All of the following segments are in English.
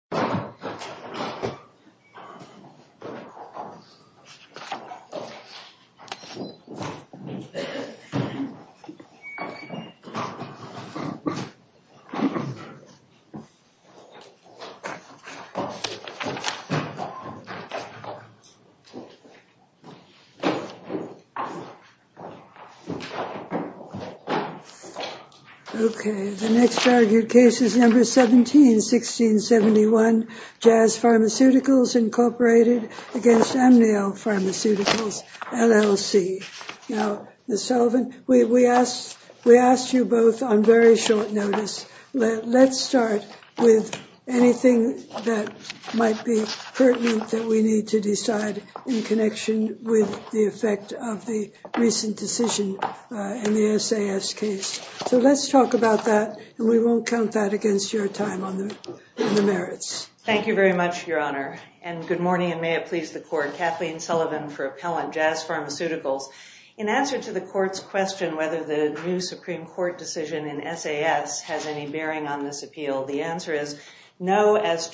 Atomics & Flavors, Inc. Jazz Pharmaceuticals, Inc. Amnial Pharmaceuticals, LLC Kathleen Sullivan, Appellant, Jazz Pharmaceuticals, Inc. As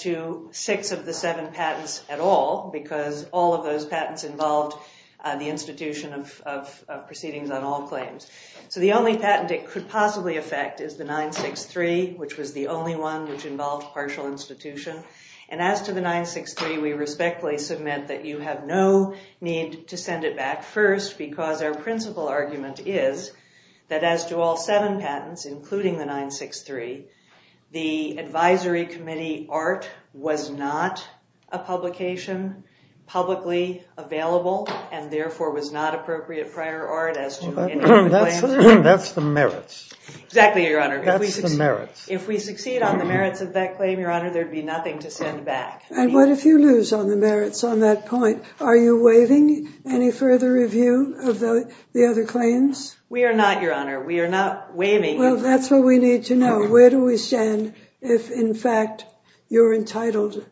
to the 963, we respectfully submit that you have no need to send it back first because our principal argument is that as to all seven patents, including the 963, the advisory committee art was not a publication publicly available and therefore was not appropriate prior art as to any of the claims. That's the merits. Exactly, Your Honor. That's the merits. If we succeed on the merits of that claim, Your Honor, there'd be nothing to send back. And what if you lose on the merits on that point? Are you waiving any further review of the other claims? We are not, Your Honor. We are not waiving. Well, that's what we need to know. Where do we stand if, in fact, you're entitled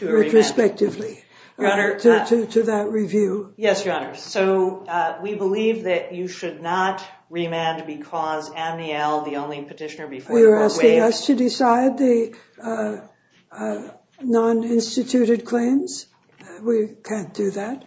retrospectively to that review? Yes, Your Honor. So we believe that you should not remand because Amnial, the only petitioner before you, was waived. You're asking us to decide the non-instituted claims? We can't do that?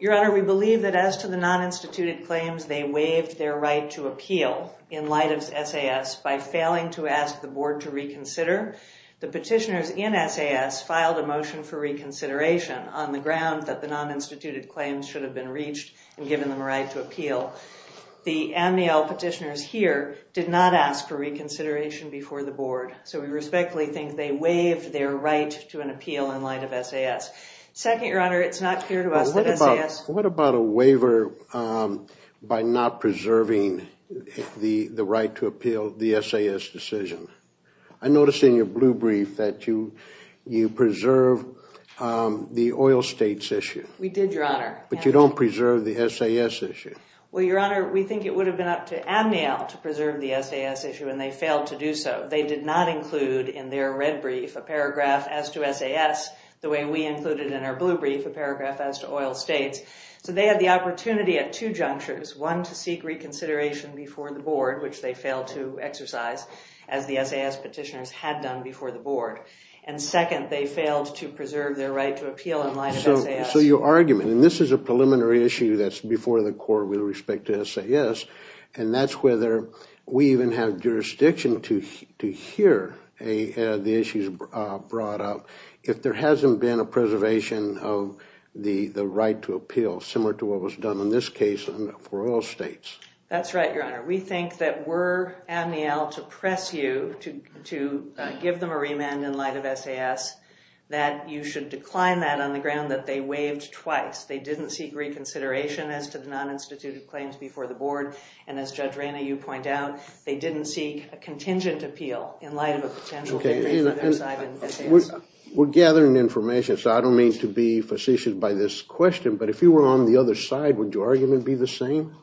Your Honor, we believe that as to the non-instituted claims, they waived their right to appeal in light of SAS by failing to ask the board to reconsider. The petitioners in SAS filed a motion for reconsideration on the ground that the non-instituted claims should have been reached and given them a right to appeal. The Amnial petitioners here did not ask for reconsideration before the board. So we respectfully think they waived their right to an appeal in light of SAS. Second, Your Honor, it's not clear to us that SAS... What about a waiver by not preserving the right to appeal the SAS decision? I noticed in your blue brief that you preserve the oil states issue. We did, Your Honor. But you don't preserve the SAS issue. Well, Your Honor, we think it would have been up to Amnial to preserve the SAS issue, and they failed to do so. They did not include in their red brief a paragraph as to SAS the way we included in our blue brief a paragraph as to oil states. So they had the opportunity at two junctures, one to seek reconsideration before the board, which they failed to exercise, as the SAS petitioners had done before the board. And second, they failed to preserve their right to appeal in light of SAS. So your argument, and this is a preliminary issue that's before the court with respect to SAS, and that's whether we even have jurisdiction to hear the issues brought up if there hasn't been a preservation of the right to appeal, similar to what was done in this case for oil states. That's right, Your Honor. We think that were Amnial to press you to give them a remand in light of SAS, that you should decline that on the ground that they waived twice. They didn't seek reconsideration as to the non-instituted claims before the board. And as Judge Rayna, you point out, they didn't seek a contingent appeal in light of a potential agreement on their side in SAS. We're gathering information, so I don't mean to be facetious by this question. But if you were on the other side, would your argument be the same?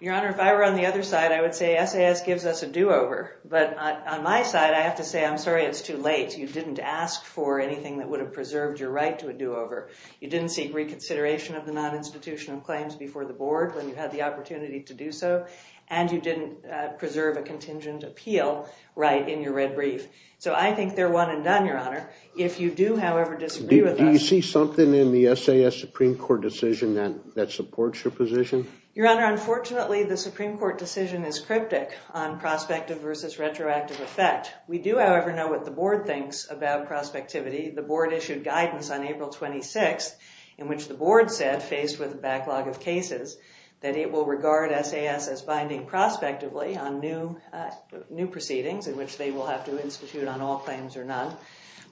Your Honor, if I were on the other side, I would say SAS gives us a do-over. But on my side, I have to say, I'm sorry it's too late. You didn't ask for anything that would have preserved your right to a do-over. You didn't seek reconsideration of the non-institutional claims before the board when you had the opportunity to do so. And you didn't preserve a contingent appeal right in your red brief. So I think they're one and done, Your Honor. If you do, however, disagree with us— Do you see something in the SAS Supreme Court decision that supports your position? Your Honor, unfortunately, the Supreme Court decision is cryptic on prospective versus retroactive effect. We do, however, know what the board thinks about prospectivity. The board issued guidance on April 26th in which the board said, faced with a backlog of cases, that it will regard SAS as binding prospectively on new proceedings in which they will have to institute on all claims or none.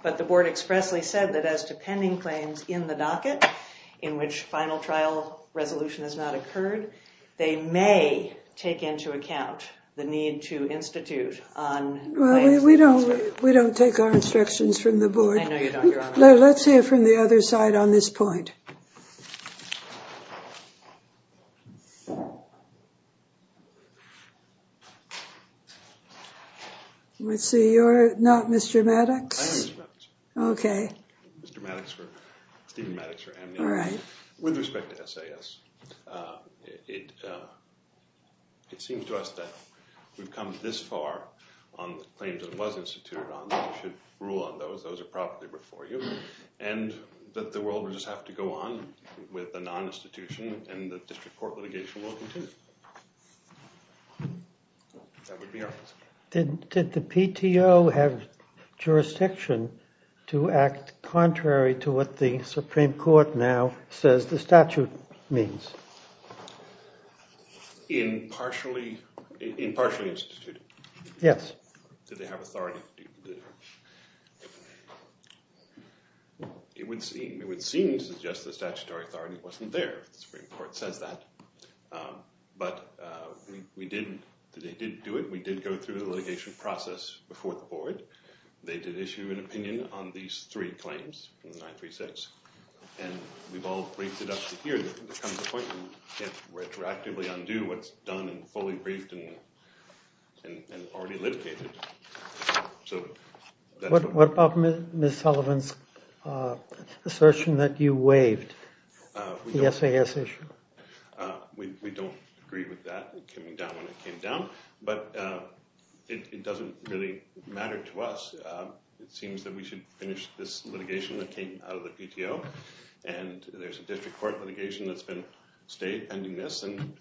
But the board expressly said that as to pending claims in the docket in which final trial resolution has not occurred, they may take into account the need to institute on— Well, we don't take our instructions from the board. I know you don't, Your Honor. Let's hear from the other side on this point. Let's see, you're not Mr. Maddox? I am Mr. Maddox. Okay. Mr. Maddox for—Steven Maddox for Amnesty. All right. With respect to SAS, it seems to us that we've come this far on the claims that it was instituted on. You should rule on those. Those are properly before you. And that the world would just have to go on with the non-institution and the district court litigation will continue. That would be our position. Did the PTO have jurisdiction to act contrary to what the Supreme Court now says the statute means? In partially—in partially instituting? Yes. Did they have authority to do that? It would seem—it would seem to suggest the statutory authority wasn't there, if the Supreme Court says that. But we did—they did do it. We did go through the litigation process before the board. They did issue an opinion on these three claims, 936. And we've all briefed it up to here, that in the coming appointment, it retroactively undo what's done and fully briefed and already litigated. What about Ms. Sullivan's assertion that you waived the SAS issue? We don't agree with that. It came down when it came down. But it doesn't really matter to us. It seems that we should finish this litigation that came out of the PTO. And there's a district court litigation that's been—stayed pending this. And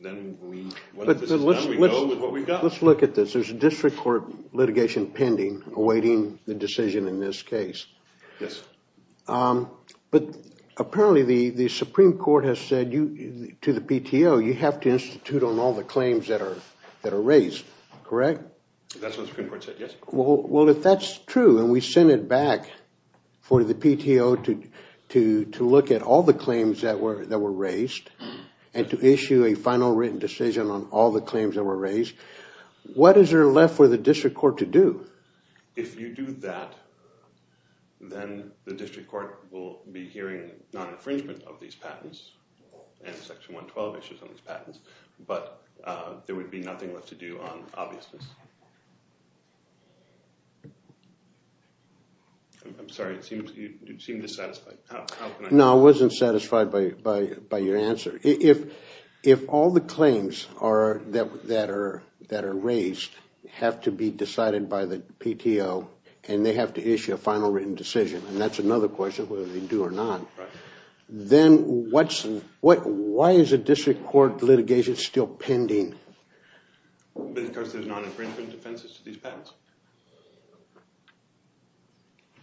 then we—what if this is done? We go with what we've got. Let's look at this. There's a district court litigation pending, awaiting the decision in this case. Yes. But apparently, the Supreme Court has said to the PTO, you have to institute on all the claims that are raised, correct? That's what the Supreme Court said, yes. Well, if that's true, and we send it back for the PTO to look at all the claims that were raised, and to issue a final written decision on all the claims that were raised, what is there left for the district court to do? If you do that, then the district court will be hearing non-infringement of these patents, and Section 112 issues on these patents. But there would be nothing left to do on obviousness. I'm sorry. You seem dissatisfied. How can I— No, I wasn't satisfied by your answer. If all the claims that are raised have to be decided by the PTO, and they have to issue a final written decision, and that's another question, whether they do or not, then why is a district court litigation still pending? Because there's non-infringement defenses to these patents.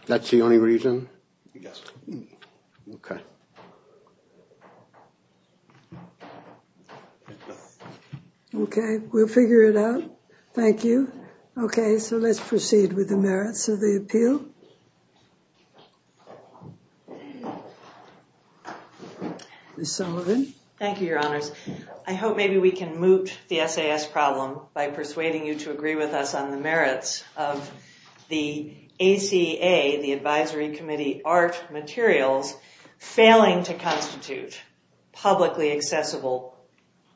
That's the only reason? Yes. Okay. Okay, we'll figure it out. Thank you. Okay, so let's proceed with the merits of the appeal. Ms. Sullivan. Thank you, Your Honors. I hope maybe we can moot the SAS problem by persuading you to agree with us on the merits of the ACA, the Advisory Committee Art Materials, failing to constitute publicly accessible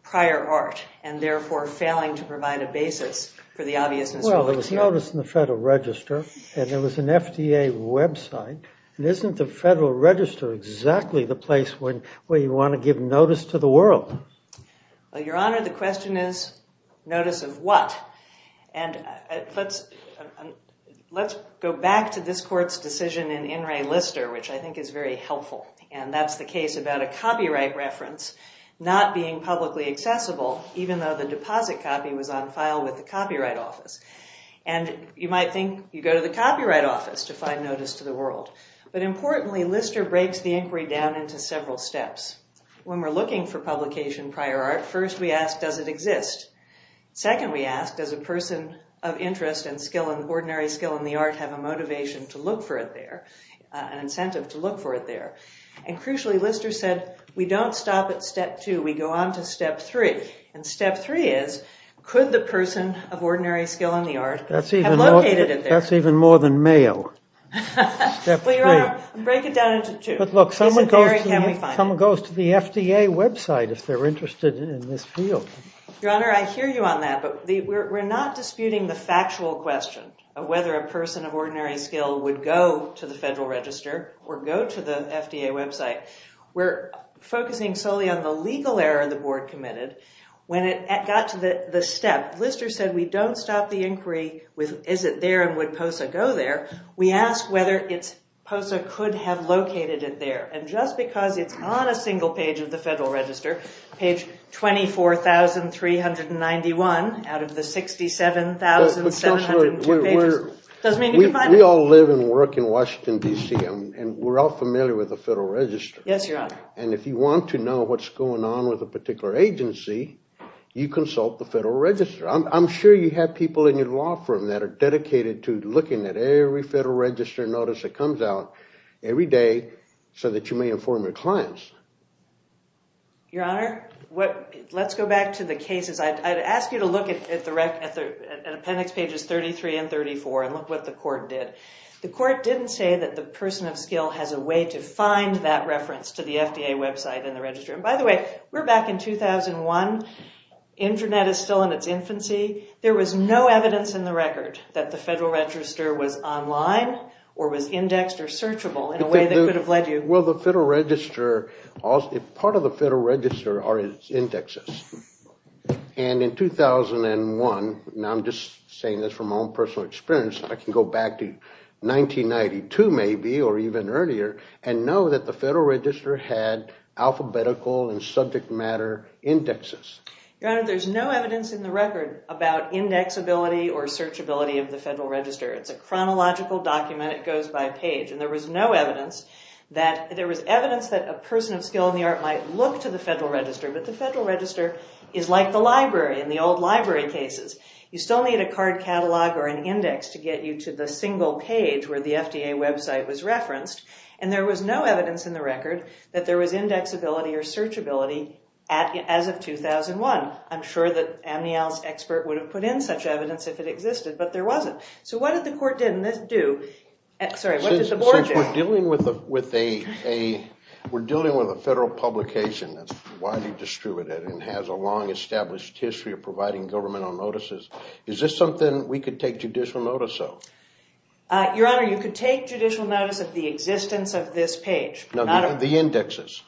prior art, and therefore failing to provide a basis for the obviousness of what's here. Well, there was notice in the Federal Register, and there was an FDA website. Isn't the Federal Register exactly the place where you want to give notice to the world? Well, Your Honor, the question is, notice of what? And let's go back to this court's decision in In Re Lister, which I think is very helpful, and that's the case about a copyright reference not being publicly accessible, even though the deposit copy was on file with the Copyright Office. And you might think you go to the Copyright Office to find notice to the world. But importantly, Lister breaks the inquiry down into several steps. When we're looking for publication prior art, first we ask, does it exist? Second we ask, does a person of interest in ordinary skill in the art have a motivation to look for it there, an incentive to look for it there? And crucially, Lister said, we don't stop at step two. We go on to step three. And step three is, could the person of ordinary skill in the art have located it there? That's even more than Mayo. Well, Your Honor, break it down into two. But look, someone goes to the FDA website if they're interested in this field. Your Honor, I hear you on that, but we're not disputing the factual question of whether a person of ordinary skill would go to the Federal Register or go to the FDA website. We're focusing solely on the legal error the Board committed. When it got to the step, Lister said, we don't stop the inquiry with, is it there and would POSA go there. We ask whether POSA could have located it there. And just because it's on a single page of the Federal Register, page 24,391 out of the 67,702 pages, doesn't mean you can find it. We all live and work in Washington, D.C., and we're all familiar with the Federal Register. Yes, Your Honor. And if you want to know what's going on with a particular agency, you consult the Federal Register. I'm sure you have people in your law firm that are dedicated to looking at every Federal Register notice that comes out every day so that you may inform your clients. Your Honor, let's go back to the cases. I'd ask you to look at appendix pages 33 and 34 and look what the court did. The court didn't say that the person of skill has a way to find that reference to the FDA website in the register. And by the way, we're back in 2001. Internet is still in its infancy. There was no evidence in the record that the Federal Register was online or was indexed or searchable in a way that could have led you. Well, part of the Federal Register are its indexes. And in 2001, now I'm just saying this from my own personal experience, I can go back to 1992 maybe or even earlier and know that the Federal Register had alphabetical and subject matter indexes. Your Honor, there's no evidence in the record about indexability or searchability of the Federal Register. It's a chronological document. It goes by page. And there was no evidence that there was evidence that a person of skill in the art might look to the Federal Register, but the Federal Register is like the library in the old library cases. You still need a card catalog or an index to get you to the single page where the FDA website was referenced. And there was no evidence in the record that there was indexability or searchability as of 2001. I'm sure that Amnial's expert would have put in such evidence if it existed, but there wasn't. So what did the court do? Sorry, what did the board do? Since we're dealing with a federal publication that's widely distributed and has a long established history of providing governmental notices, is this something we could take judicial notice of? Your Honor, you could take judicial notice of the existence of this page. No, the indexes.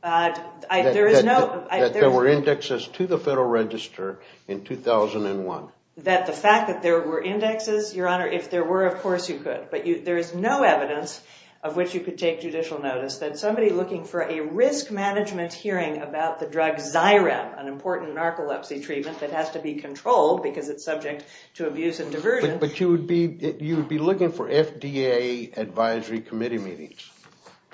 That there were indexes to the Federal Register in 2001. That the fact that there were indexes, Your Honor, if there were, of course you could. But there is no evidence of which you could take judicial notice that somebody looking for a risk management hearing about the drug Xyrem, an important narcolepsy treatment that has to be controlled because it's subject to abuse and diversion. But you would be looking for FDA advisory committee meetings.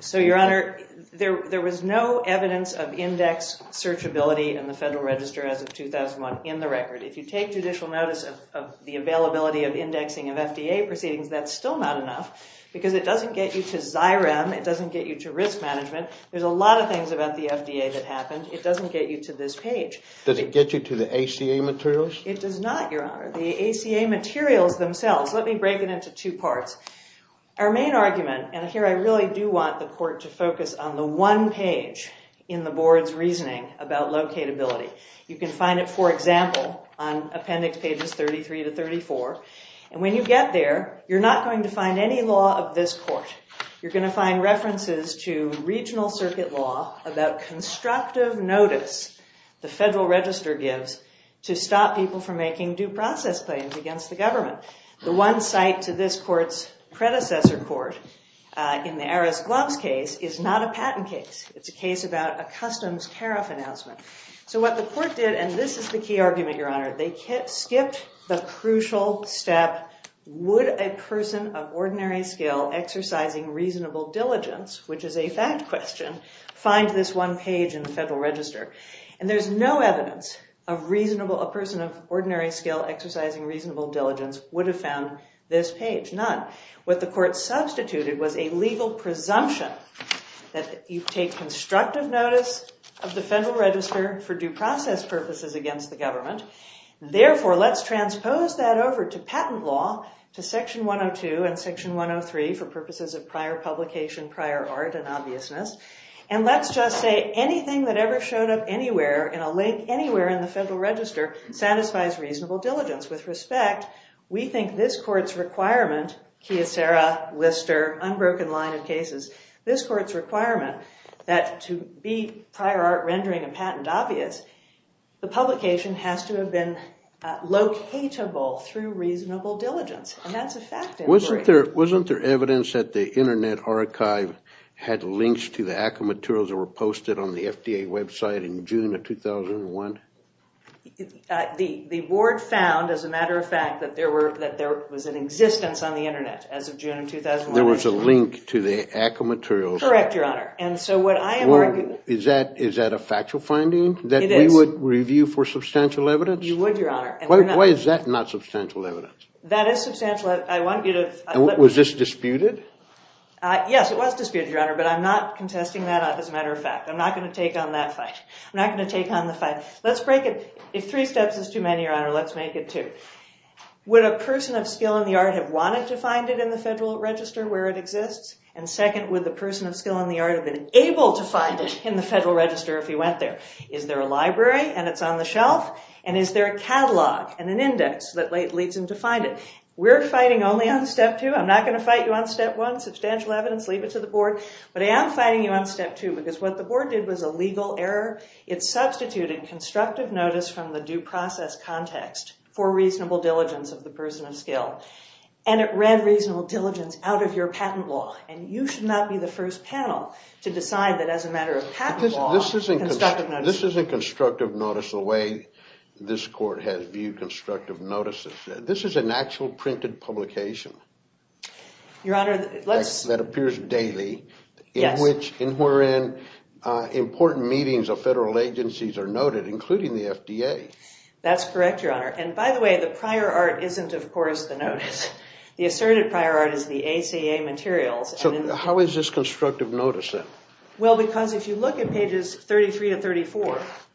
So, Your Honor, there was no evidence of index searchability in the Federal Register as of 2001 in the record. If you take judicial notice of the availability of indexing of FDA proceedings, that's still not enough. Because it doesn't get you to Xyrem, it doesn't get you to risk management. There's a lot of things about the FDA that happened. It doesn't get you to this page. Does it get you to the ACA materials? It does not, Your Honor. The ACA materials themselves. Let me break it into two parts. Our main argument, and here I really do want the court to focus on the one page in the board's reasoning about locatability. You can find it, for example, on appendix pages 33 to 34. And when you get there, you're not going to find any law of this court. You're going to find references to regional circuit law about constructive notice the Federal Register gives to stop people from making due process claims against the government. The one site to this court's predecessor court in the Aris Gloves case is not a patent case. It's a case about a customs tariff announcement. So what the court did, and this is the key argument, Your Honor, they skipped the crucial step. Would a person of ordinary skill exercising reasonable diligence, which is a fact question, find this one page in the Federal Register? And there's no evidence a person of ordinary skill exercising reasonable diligence would have found this page, none. What the court substituted was a legal presumption that you take constructive notice of the Federal Register for due process purposes against the government. Therefore, let's transpose that over to patent law, to section 102 and section 103 for purposes of prior publication, prior art, and obviousness. And let's just say anything that ever showed up anywhere in a link anywhere in the Federal Register satisfies reasonable diligence. With respect, we think this court's requirement, Kyocera, Lister, unbroken line of cases, this court's requirement that to be prior art rendering a patent obvious, the publication has to have been locatable through reasonable diligence. Wasn't there evidence that the Internet Archive had links to the AACA materials that were posted on the FDA website in June of 2001? The board found, as a matter of fact, that there was an existence on the Internet as of June of 2001. There was a link to the AACA materials. Correct, Your Honor. Is that a factual finding that we would review for substantial evidence? You would, Your Honor. Why is that not substantial evidence? That is substantial. I want you to… Was this disputed? Yes, it was disputed, Your Honor, but I'm not contesting that as a matter of fact. I'm not going to take on that fight. I'm not going to take on the fight. Let's break it. If three steps is too many, Your Honor, let's make it two. Would a person of skill in the art have wanted to find it in the Federal Register where it exists? And second, would the person of skill in the art have been able to find it in the Federal Register if he went there? Is there a library and it's on the shelf? And is there a catalog and an index that leads him to find it? We're fighting only on step two. I'm not going to fight you on step one, substantial evidence, leave it to the Board. But I am fighting you on step two because what the Board did was a legal error. It substituted constructive notice from the due process context for reasonable diligence of the person of skill. And it read reasonable diligence out of your patent law. And you should not be the first panel to decide that as a matter of patent law, constructive notice… This court has viewed constructive notices. This is an actual printed publication. Your Honor, let's… That appears daily. Yes. In which important meetings of federal agencies are noted, including the FDA. That's correct, Your Honor. And by the way, the prior art isn't, of course, the notice. The asserted prior art is the ACA materials. So how is this constructive notice then? Well, because if you look at pages 33 to 34… If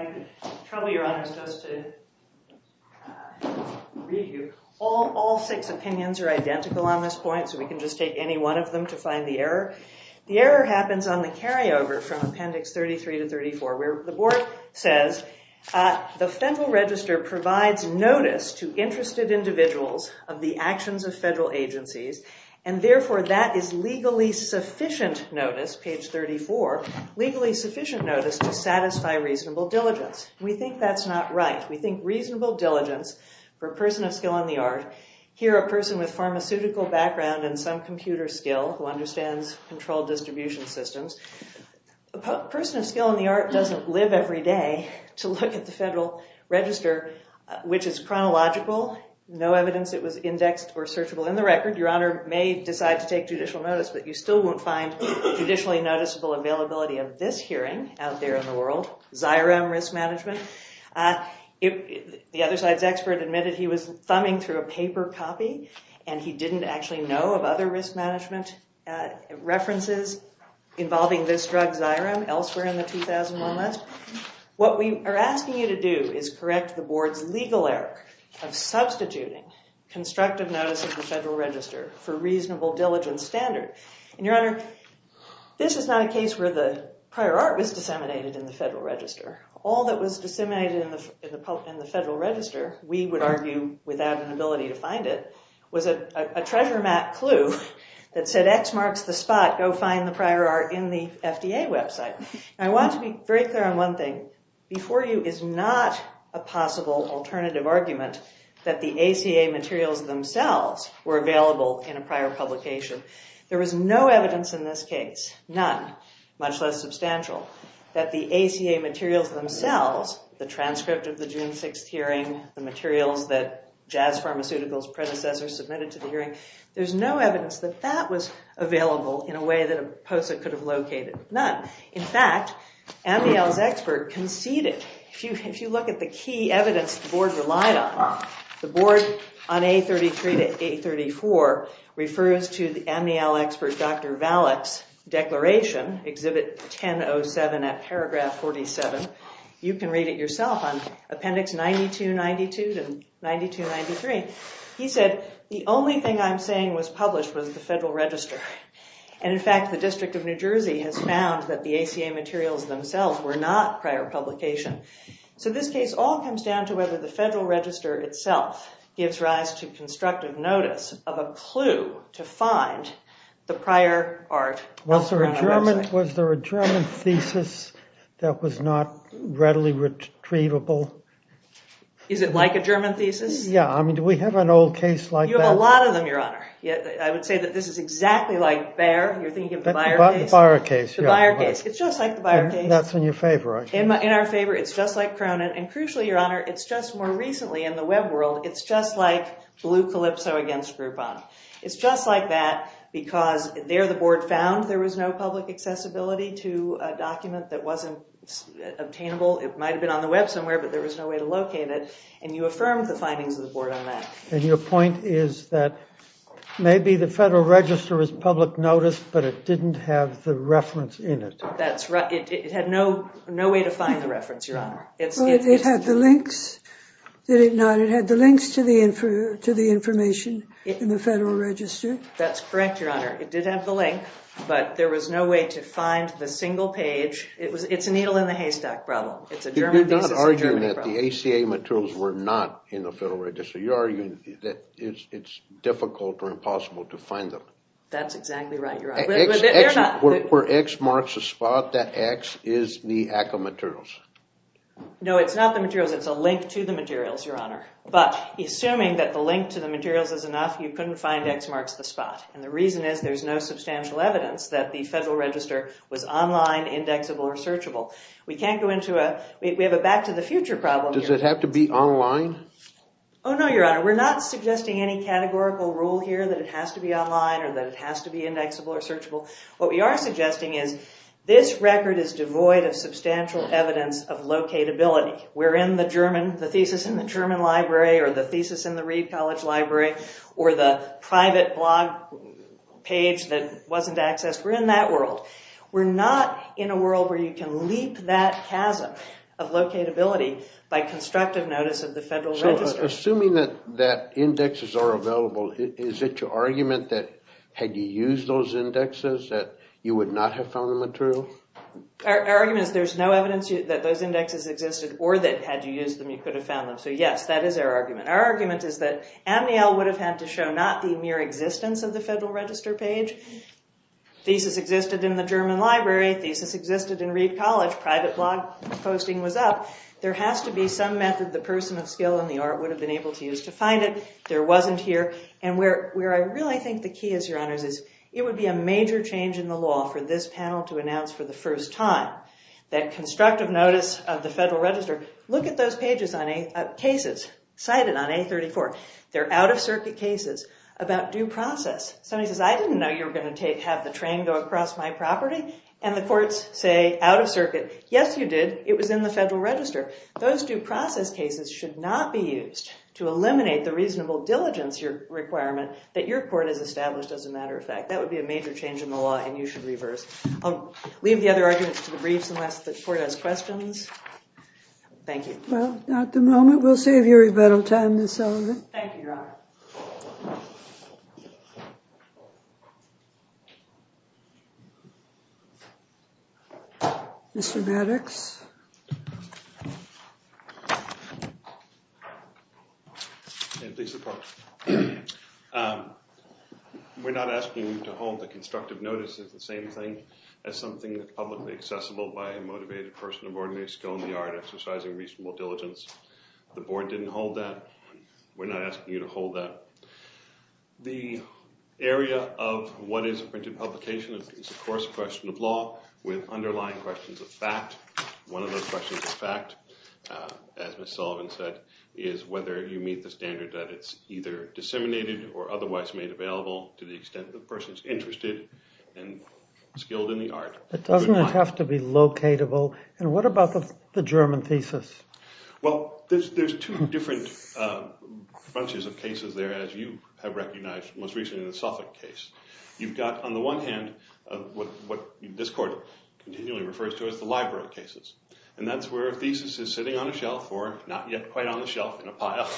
I could trouble Your Honor just to read you. All six opinions are identical on this point, so we can just take any one of them to find the error. The error happens on the carryover from appendix 33 to 34 where the Board says the federal register provides notice to interested individuals of the actions of federal agencies. And therefore, that is legally sufficient notice, page 34, legally sufficient notice to satisfy reasonable diligence. We think that's not right. We think reasonable diligence for a person of skill in the art, here a person with pharmaceutical background and some computer skill who understands controlled distribution systems. A person of skill in the art doesn't live every day to look at the federal register, which is chronological, no evidence it was indexed or searchable in the record. Your Honor may decide to take judicial notice, but you still won't find judicially noticeable availability of this hearing out there in the world, Xyrem risk management. The other side's expert admitted he was thumbing through a paper copy and he didn't actually know of other risk management references involving this drug, Xyrem, elsewhere in the 2001 list. What we are asking you to do is correct the Board's legal error of substituting constructive notice of the federal register for reasonable diligence standard. Your Honor, this is not a case where the prior art was disseminated in the federal register. All that was disseminated in the federal register, we would argue without an ability to find it, was a treasure map clue that said X marks the spot, go find the prior art in the FDA website. I want to be very clear on one thing. Before you is not a possible alternative argument that the ACA materials themselves were available in a prior publication. There was no evidence in this case, none, much less substantial, that the ACA materials themselves, the transcript of the June 6th hearing, the materials that Jazz Pharmaceutical's predecessors submitted to the hearing, there's no evidence that that was available in a way that a POSA could have located. None. In fact, Amniel's expert conceded if you look at the key evidence the Board relied on, the Board on A33 to A34 refers to the Amniel expert Dr. Valleck's declaration, Exhibit 1007 at paragraph 47. You can read it yourself on appendix 9292 to 9293. He said the only thing I'm saying was published was the federal register. In fact, the District of New Jersey has found that the ACA materials themselves were not prior publication. So this case all comes down to whether the federal register itself gives rise to constructive notice of a clue to find the prior art elsewhere on our website. Was there a German thesis that was not readily retrievable? Is it like a German thesis? Yeah. I mean, do we have an old case like that? You have a lot of them, Your Honor. I would say that this is exactly like Bayer. You're thinking of the Bayer case. The Bayer case, yeah. The Bayer case. It's just like the Bayer case. That's in your favor, I think. In our favor, it's just like Cronin. And crucially, Your Honor, it's just more recently in the web world, it's just like Blue Calypso against Groupon. It's just like that because there the board found there was no public accessibility to a document that wasn't obtainable. It might have been on the web somewhere, but there was no way to locate it. And you affirmed the findings of the board on that. And your point is that maybe the federal register is public notice, but it didn't have the reference in it. That's right. It had no way to find the reference, Your Honor. It had the links. Did it not? It had the links to the information in the federal register. That's correct, Your Honor. It did have the link, but there was no way to find the single page. It's a needle in the haystack problem. It's a German thesis. You're not arguing that the ACA materials were not in the federal register. You're arguing that it's difficult or impossible to find them. That's exactly right, Your Honor. Where X marks the spot, that X is the ACA materials. No, it's not the materials. It's a link to the materials, Your Honor. But assuming that the link to the materials is enough, you couldn't find X marks the spot. And the reason is there's no substantial evidence that the federal register was online, indexable, or searchable. We have a back to the future problem here. Does it have to be online? Oh, no, Your Honor. We're not suggesting any categorical rule here that it has to be online or that it has to be indexable or searchable. What we are suggesting is this record is devoid of substantial evidence of locatability. We're in the thesis in the German library or the thesis in the Reed College library or the private blog page that wasn't accessed. We're in that world. We're not in a world where you can leap that chasm of locatability by constructive notice of the federal register. Assuming that indexes are available, is it your argument that had you used those indexes that you would not have found the material? Our argument is there's no evidence that those indexes existed or that had you used them, you could have found them. So, yes, that is our argument. Our argument is that Amniel would have had to show not the mere existence of the federal register page. Thesis existed in the German library. Thesis existed in Reed College. Private blog posting was up. There has to be some method the person of skill and the art would have been able to use to find it. There wasn't here. And where I really think the key is, Your Honors, is it would be a major change in the law for this panel to announce for the first time that constructive notice of the federal register, look at those pages on cases cited on A34. They're out-of-circuit cases about due process. Somebody says, I didn't know you were going to have the train go across my property. And the courts say, out-of-circuit, yes, you did. It was in the federal register. Those due process cases should not be used to eliminate the reasonable diligence requirement that your court has established, as a matter of fact. That would be a major change in the law, and you should reverse. I'll leave the other arguments to the briefs unless the court has questions. Thank you. Well, at the moment, we'll save you a little time, Ms. Sullivan. Thank you, Your Honor. Thank you. Mr. Maddox. We're not asking you to hold the constructive notice of the same thing as something that's publicly accessible by a motivated person of ordinary skill in the art exercising reasonable diligence. The board didn't hold that. We're not asking you to hold that. The area of what is a printed publication is, of course, a question of law, with underlying questions of fact. One of those questions of fact, as Ms. Sullivan said, is whether you meet the standard that it's either disseminated or otherwise made available to the extent the person's interested and skilled in the art. It doesn't have to be locatable. And what about the German thesis? Well, there's two different bunches of cases there, as you have recognized most recently in the Suffolk case. You've got, on the one hand, what this court continually refers to as the library cases, and that's where a thesis is sitting on a shelf or not yet quite on the shelf in a pile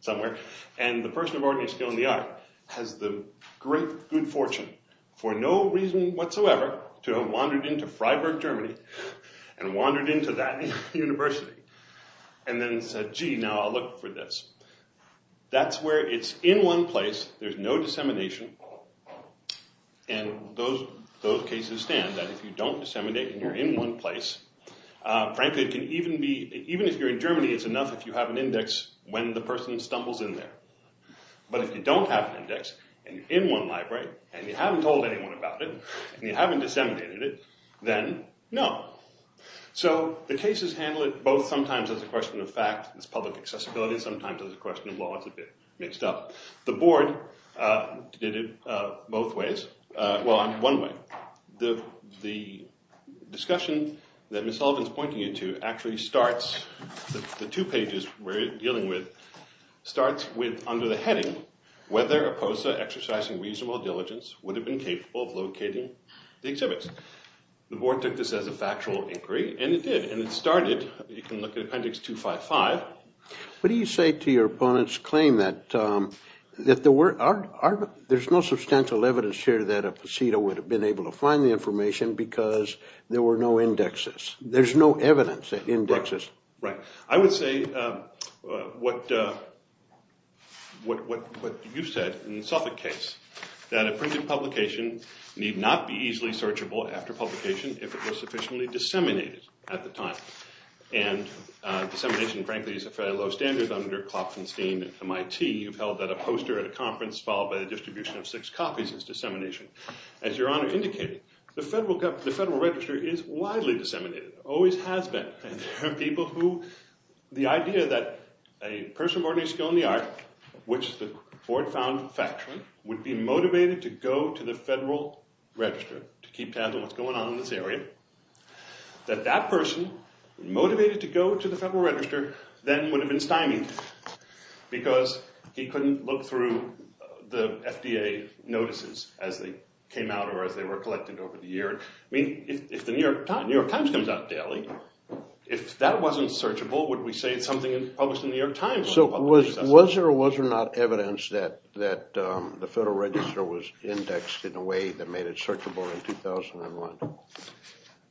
somewhere, and the person of ordinary skill in the art has the great good fortune for no reason whatsoever to have wandered into Freiburg, Germany, and wandered into that university and then said, gee, now I'll look for this. That's where it's in one place, there's no dissemination, and those cases stand that if you don't disseminate and you're in one place, frankly, it can even be, even if you're in Germany, it's enough if you have an index when the person stumbles in there. But if you don't have an index and you're in one library and you haven't told anyone about it and you haven't disseminated it, then no. So the cases handle it both sometimes as a question of fact, it's public accessibility, sometimes as a question of law, it's a bit mixed up. The board did it both ways, well, one way. The discussion that Ms. Sullivan's pointing you to actually starts, whether a POSA exercising reasonable diligence would have been capable of locating the exhibits. The board took this as a factual inquiry, and it did, and it started, you can look at appendix 255. What do you say to your opponent's claim that there's no substantial evidence here that a POSETA would have been able to find the information because there were no indexes? There's no evidence at indexes. Right. I would say what you said in the Suffolk case, that a printed publication need not be easily searchable after publication if it was sufficiently disseminated at the time. And dissemination, frankly, is a fairly low standard under Klopfenstein. At MIT, you've held that a poster at a conference followed by the distribution of six copies is dissemination. As Your Honor indicated, the Federal Register is widely disseminated, always has been, and there are people who the idea that a person of ordinary skill in the art, which the board found factual, would be motivated to go to the Federal Register to keep tabs on what's going on in this area, that that person, motivated to go to the Federal Register, then would have been stymied because he couldn't look through the FDA notices as they came out or as they were collected over the year. I mean, if the New York Times comes out daily, if that wasn't searchable, would we say it's something published in the New York Times? So was there or was there not evidence that the Federal Register was indexed in a way that made it searchable in 2001?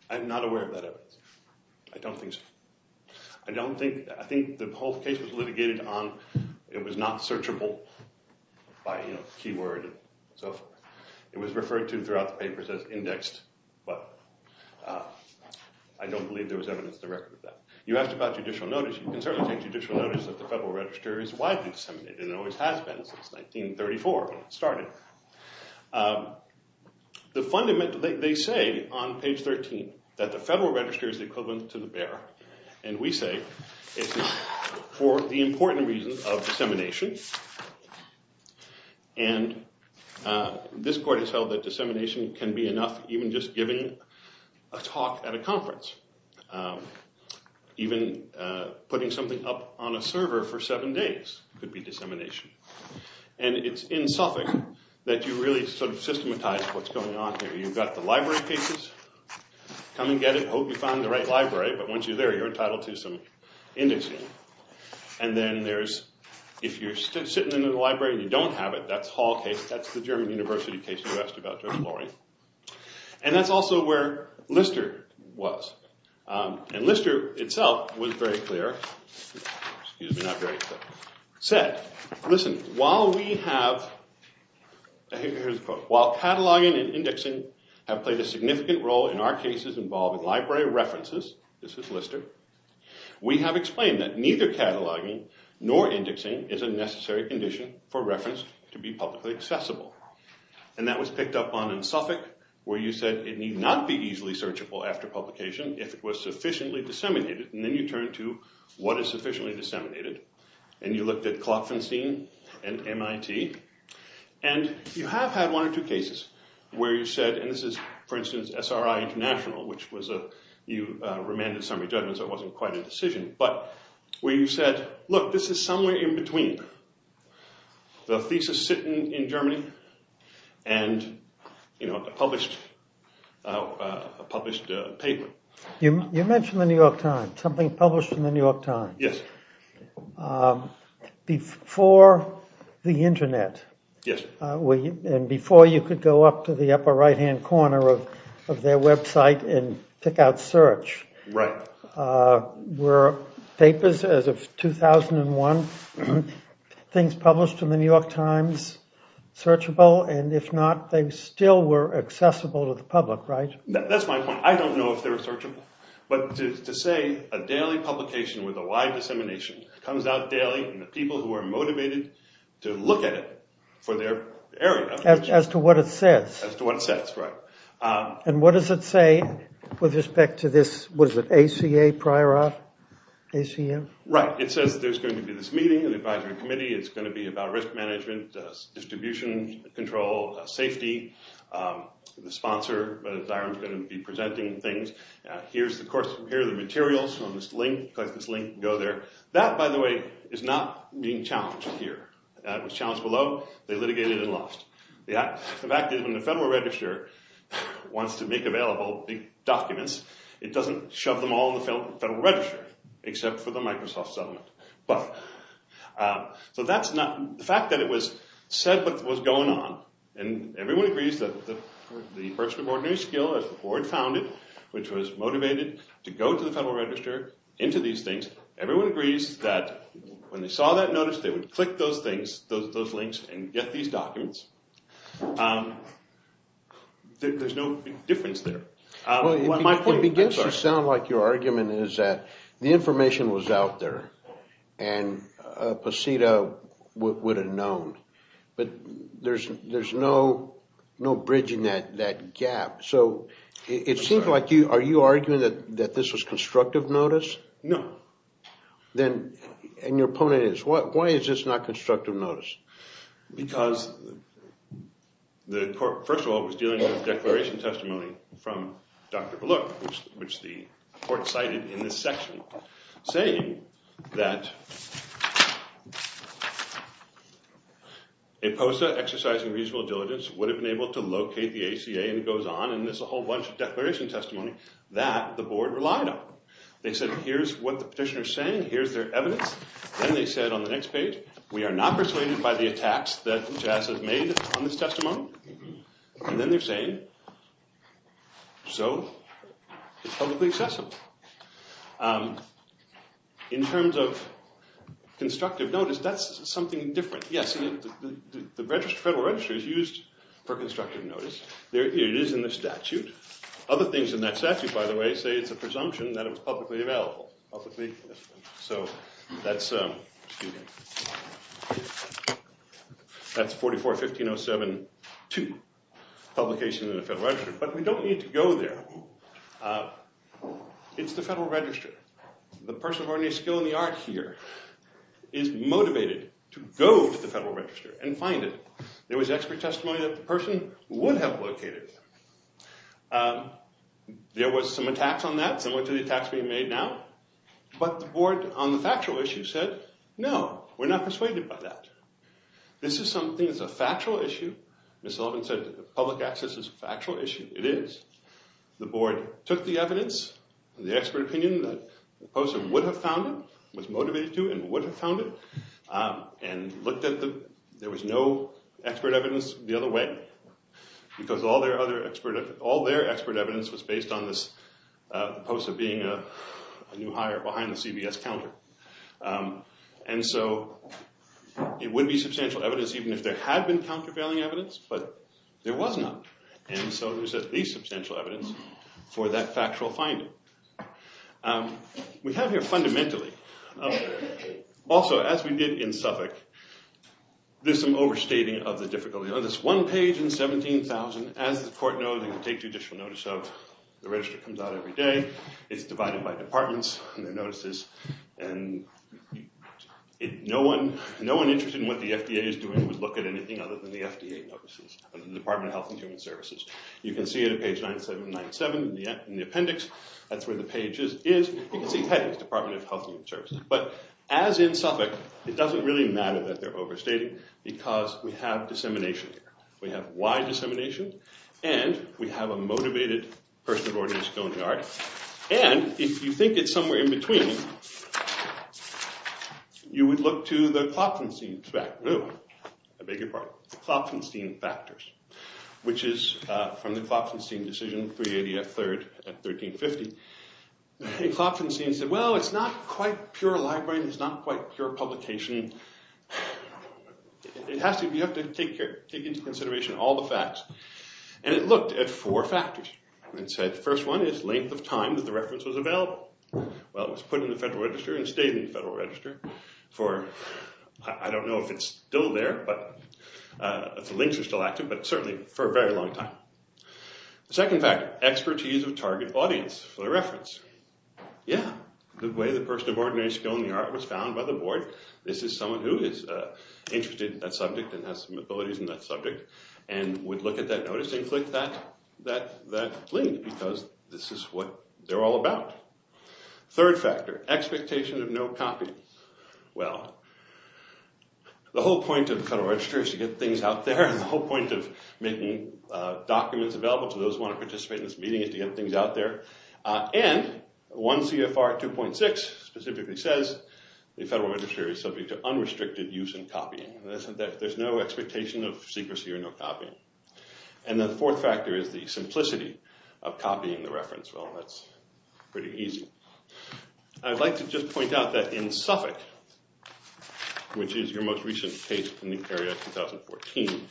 I'm not aware of that evidence. I don't think so. I think the whole case was litigated on it was not searchable by keyword. It was referred to throughout the papers as indexed, but I don't believe there was evidence to record that. You asked about judicial notice. You can certainly take judicial notice that the Federal Register is widely disseminated and always has been since 1934 when it started. They say on page 13 that the Federal Register is the equivalent to the This court has held that dissemination can be enough even just giving a talk at a conference. Even putting something up on a server for seven days could be dissemination. And it's in Suffolk that you really sort of systematize what's going on here. You've got the library cases. Come and get it. Hope you find the right library. But once you're there, you're entitled to some indexing. And then there's if you're sitting in the library and you don't have it, that's Hall case. That's the German University case you asked about to exploring. And that's also where Lister was. And Lister itself was very clear. Excuse me, not very clear. Said, listen, while we have, here's the quote, while cataloging and indexing have played a significant role in our cases involving library references, this is Lister, we have explained that neither cataloging nor indexing is a necessary condition for reference to be publicly accessible. And that was picked up on in Suffolk where you said it need not be easily searchable after publication if it was sufficiently disseminated. And then you turn to what is sufficiently disseminated. And you looked at Klopfenstein and MIT. And you have had one or two cases where you said, and this is, for instance, SRI International, which you remanded summary judgments. That wasn't quite a decision. But where you said, look, this is somewhere in between. The thesis sitting in Germany and a published paper. You mentioned the New York Times, something published in the New York Times. Yes. Before the internet. Yes. And before you could go up to the upper right-hand corner of their website and pick out search. Right. Were papers as of 2001 things published in the New York Times searchable? And if not, they still were accessible to the public, right? That's my point. I don't know if they were searchable. But to say a daily publication with a wide dissemination comes out daily and the people who are motivated to look at it for their area. As to what it says. As to what it says, right. And what does it say with respect to this? What is it? ACA? ACM? Right. It says there's going to be this meeting of the advisory committee. It's going to be about risk management, distribution control, safety. The sponsor is going to be presenting things. Here are the materials from this link. Click this link and go there. That, by the way, is not being challenged here. It was challenged below. They litigated and lost. The fact is, when the Federal Register wants to make available documents, it doesn't shove them all in the Federal Register, except for the Microsoft settlement. The fact that it said what was going on, and everyone agrees that the person of ordinary skill, as the board found it, which was motivated to go to the Federal Register, into these things, everyone agrees that when they saw that notice, they would click those things, those links, and get these documents. There's no difference there. Well, it begins to sound like your argument is that the information was out there and POSITA would have known. But there's no bridging that gap. So it seems like you are arguing that this was constructive notice? No. And your opponent is. Why is this not constructive notice? Because, first of all, it was dealing with declaration testimony from Dr. Belook, which the court cited in this section, saying that a POSITA exercising reasonable diligence would have been able to locate the ACA, and it goes on, and there's a whole bunch of declaration testimony that the board relied on. They said, here's what the petitioner is saying. Here's their evidence. Then they said on the next page, we are not persuaded by the attacks that JASA has made on this testimony. And then they're saying, so it's publicly accessible. In terms of constructive notice, that's something different. Yes, the Federal Register is used for constructive notice. It is in the statute. Other things in that statute, by the way, say it's a presumption that it was publicly available. So that's 44-1507-2, publication in the Federal Register. But we don't need to go there. It's the Federal Register. The person of ordinary skill and the art here is motivated to go to the Federal Register and find it. There was expert testimony that the person would have located it. There was some attacks on that, similar to the attacks being made now. But the board on the factual issue said, no, we're not persuaded by that. This is something that's a factual issue. Ms. Sullivan said public access is a factual issue. It is. The board took the evidence and the expert opinion that the person would have found it, was motivated to, and would have found it, and looked at them. There was no expert evidence the other way, because all their expert evidence was based on this post of being a new hire behind the CBS counter. And so it would be substantial evidence, even if there had been countervailing evidence. But there was not. And so there's at least substantial evidence for that factual finding. We have here fundamentally. Also, as we did in Suffolk, there's some overstating of the difficulty. There's one page in 17,000. As the court knows, they can take judicial notice of. The register comes out every day. It's divided by departments and their notices. And no one interested in what the FDA is doing would look at anything other than the FDA notices, or the Department of Health and Human Services. You can see it on page 9797 in the appendix. That's where the page is. You can see headings, Department of Health and Human Services. But as in Suffolk, it doesn't really matter that they're overstating, because we have dissemination here. We have wide dissemination. And we have a motivated person of ordinary skill and generality. And if you think it's somewhere in between, you would look to the Klopfenstein factors, which is from the Klopfenstein decision, 380 at 1350. And Klopfenstein said, well, it's not quite pure library. Klopfenstein is not quite pure publication. You have to take into consideration all the facts. And it looked at four factors. It said, the first one is length of time that the reference was available. Well, it was put in the Federal Register and stayed in the Federal Register for, I don't know if it's still there, if the links are still active, but certainly for a very long time. The second factor, expertise of target audience for the reference. Yeah, the way the person of ordinary skill in the art was found by the board. This is someone who is interested in that subject and has some abilities in that subject and would look at that notice and click that link, because this is what they're all about. Third factor, expectation of no copy. Well, the whole point of the Federal Register is to get things out there. The whole point of making documents available to those who want to participate in this meeting is to get things out there. And one CFR 2.6 specifically says, the Federal Register is subject to unrestricted use and copying. There's no expectation of secrecy or no copying. And the fourth factor is the simplicity of copying the reference. Well, that's pretty easy. I'd like to just point out that in Suffolk, which is your most recent page from New Carriage 2014,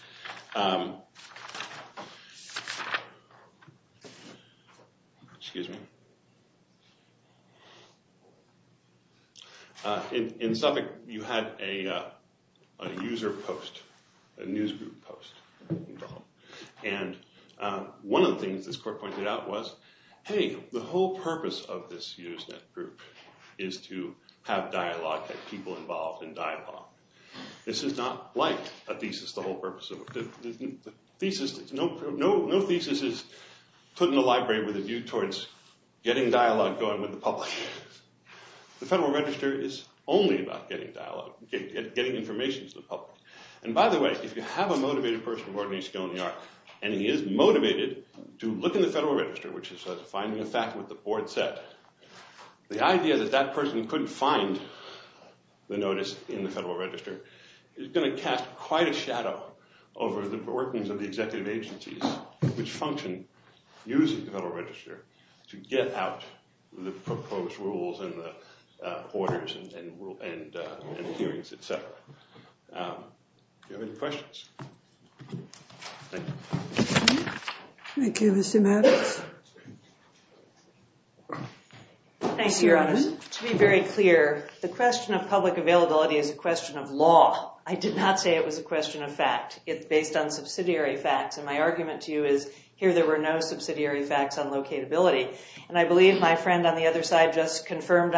in Suffolk you had a user post, a news group post. And one of the things this court pointed out was, hey, the whole purpose of this user group is to have dialogue, have people involved in dialogue. This is not like a thesis. No thesis is put in a library with a view towards getting dialogue going with the public. The Federal Register is only about getting dialogue, getting information to the public. And by the way, if you have a motivated person, Rodney Sconey, and he is motivated to look in the Federal Register, which is finding a fact with the board set, the idea that that person couldn't find the notice in the Federal Register is going to cast quite a shadow over the workings of the executive agencies which function using the Federal Register to get out the proposed rules and the orders and hearings, et cetera. Do you have any questions? Thank you. Thank you, Mr. Maddox. Thank you, Your Honor. To be very clear, the question of public availability is a question of law. I did not say it was a question of fact. It's based on subsidiary facts, and my argument to you is here there were no subsidiary facts on locatability. And I believe my friend on the other side just confirmed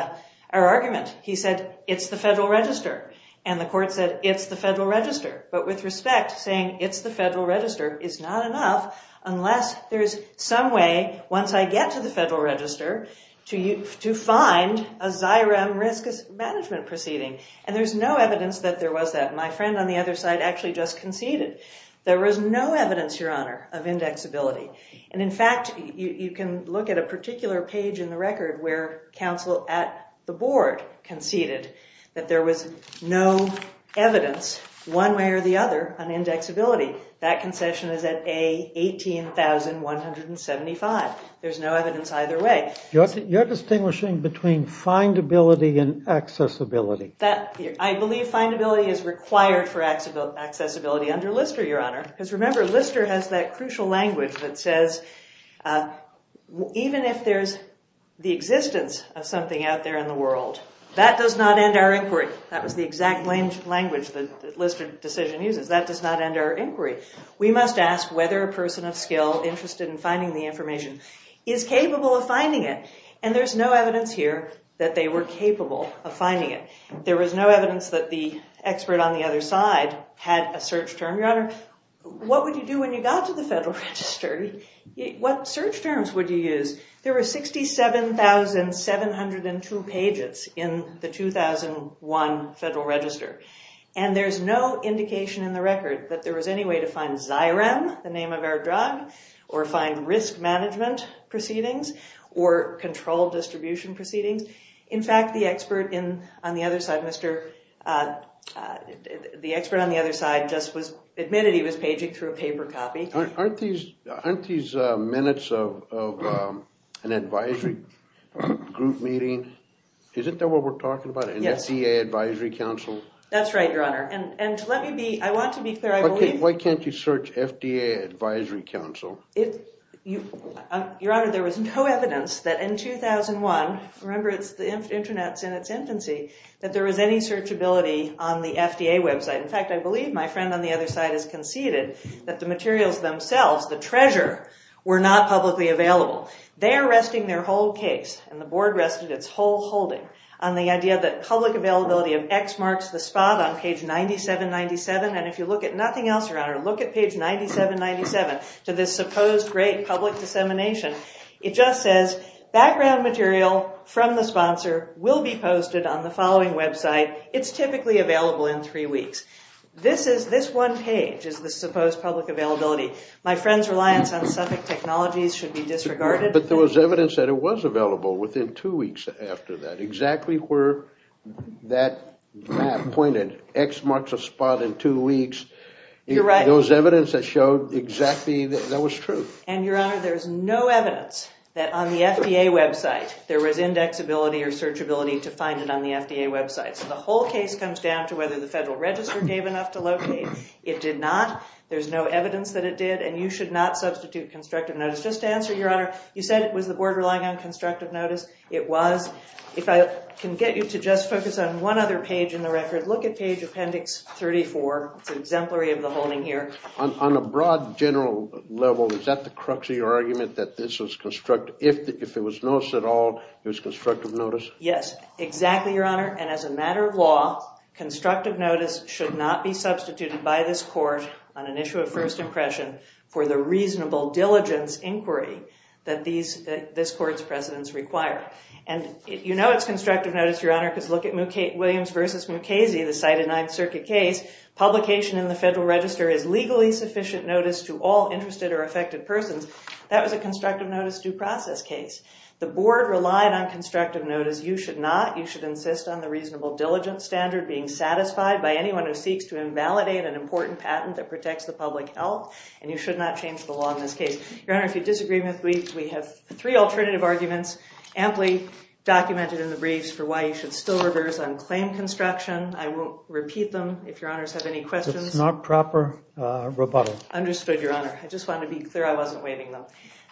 our argument. He said, it's the Federal Register. And the court said, it's the Federal Register. But with respect, saying it's the Federal Register is not enough unless there is some way, once I get to the Federal Register, to find a XIRM risk management proceeding. And there's no evidence that there was that. My friend on the other side actually just conceded. There was no evidence, Your Honor, of indexability. And, in fact, you can look at a particular page in the record where counsel at the board conceded that there was no evidence, one way or the other, on indexability. That concession is at A, 18,175. There's no evidence either way. You're distinguishing between findability and accessibility. I believe findability is required for accessibility under Lister, Your Honor. Because, remember, Lister has that crucial language that says, even if there's the existence of something out there in the world, that does not end our inquiry. That was the exact language that Lister's decision uses. That does not end our inquiry. We must ask whether a person of skill interested in finding the information is capable of finding it. And there's no evidence here that they were capable of finding it. There was no evidence that the expert on the other side had a search term. Your Honor, what would you do when you got to the Federal Register? What search terms would you use? There were 67,702 pages in the 2001 Federal Register. And there's no indication in the record that there was any way to find Xyrem, the name of our drug, or find risk management proceedings or control distribution proceedings. In fact, the expert on the other side just admitted he was paging through a paper copy. Aren't these minutes of an advisory group meeting, isn't that what we're talking about? An FDA advisory council? That's right, Your Honor. I want to be clear. Why can't you search FDA advisory council? Your Honor, there was no evidence that in 2001, remember the Internet's in its infancy, that there was any searchability on the FDA website. In fact, I believe my friend on the other side has conceded that the materials themselves, the treasure, were not publicly available. They are resting their whole case, and the Board rested its whole holding, on the idea that public availability of X marks the spot on page 9797. And if you look at nothing else, Your Honor, look at page 9797, to this supposed great public dissemination, it just says background material from the sponsor will be posted on the following website. It's typically available in three weeks. This one page is the supposed public availability. My friend's reliance on suffix technologies should be disregarded. But there was evidence that it was available within two weeks after that, exactly where that map pointed, X marks the spot in two weeks. You're right. There was evidence that showed exactly that that was true. And, Your Honor, there's no evidence that on the FDA website, there was indexability or searchability to find it on the FDA website. So the whole case comes down to whether the Federal Register gave enough to locate. It did not. There's no evidence that it did, and you should not substitute constructive notice. Just to answer, Your Honor, you said it was the board relying on constructive notice. It was. If I can get you to just focus on one other page in the record, look at page appendix 34. It's an exemplary of the holding here. On a broad general level, is that the crux of your argument, that this was constructive? If it was notice at all, it was constructive notice? Yes, exactly, Your Honor. And as a matter of law, constructive notice should not be substituted by this court on an issue of first impression for the reasonable diligence inquiry that this court's precedents require. And you know it's constructive notice, Your Honor, because look at Williams v. Mukasey, the cited Ninth Circuit case. Publication in the Federal Register is legally sufficient notice to all interested or affected persons. That was a constructive notice due process case. The board relied on constructive notice. You should not. You should insist on the reasonable diligence standard being satisfied by anyone who seeks to invalidate an important patent that protects the public health. And you should not change the law in this case. Your Honor, if you disagree with me, we have three alternative arguments amply documented in the briefs for why you should still reverse unclaimed construction. I will repeat them if Your Honors have any questions. It's not proper rebuttal. Understood, Your Honor. I just wanted to be clear I wasn't waiving them.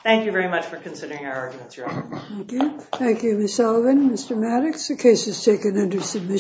Thank you very much for considering our arguments, Your Honor. Thank you. Thank you, Ms. Sullivan. Mr. Maddox, the case is taken under submission.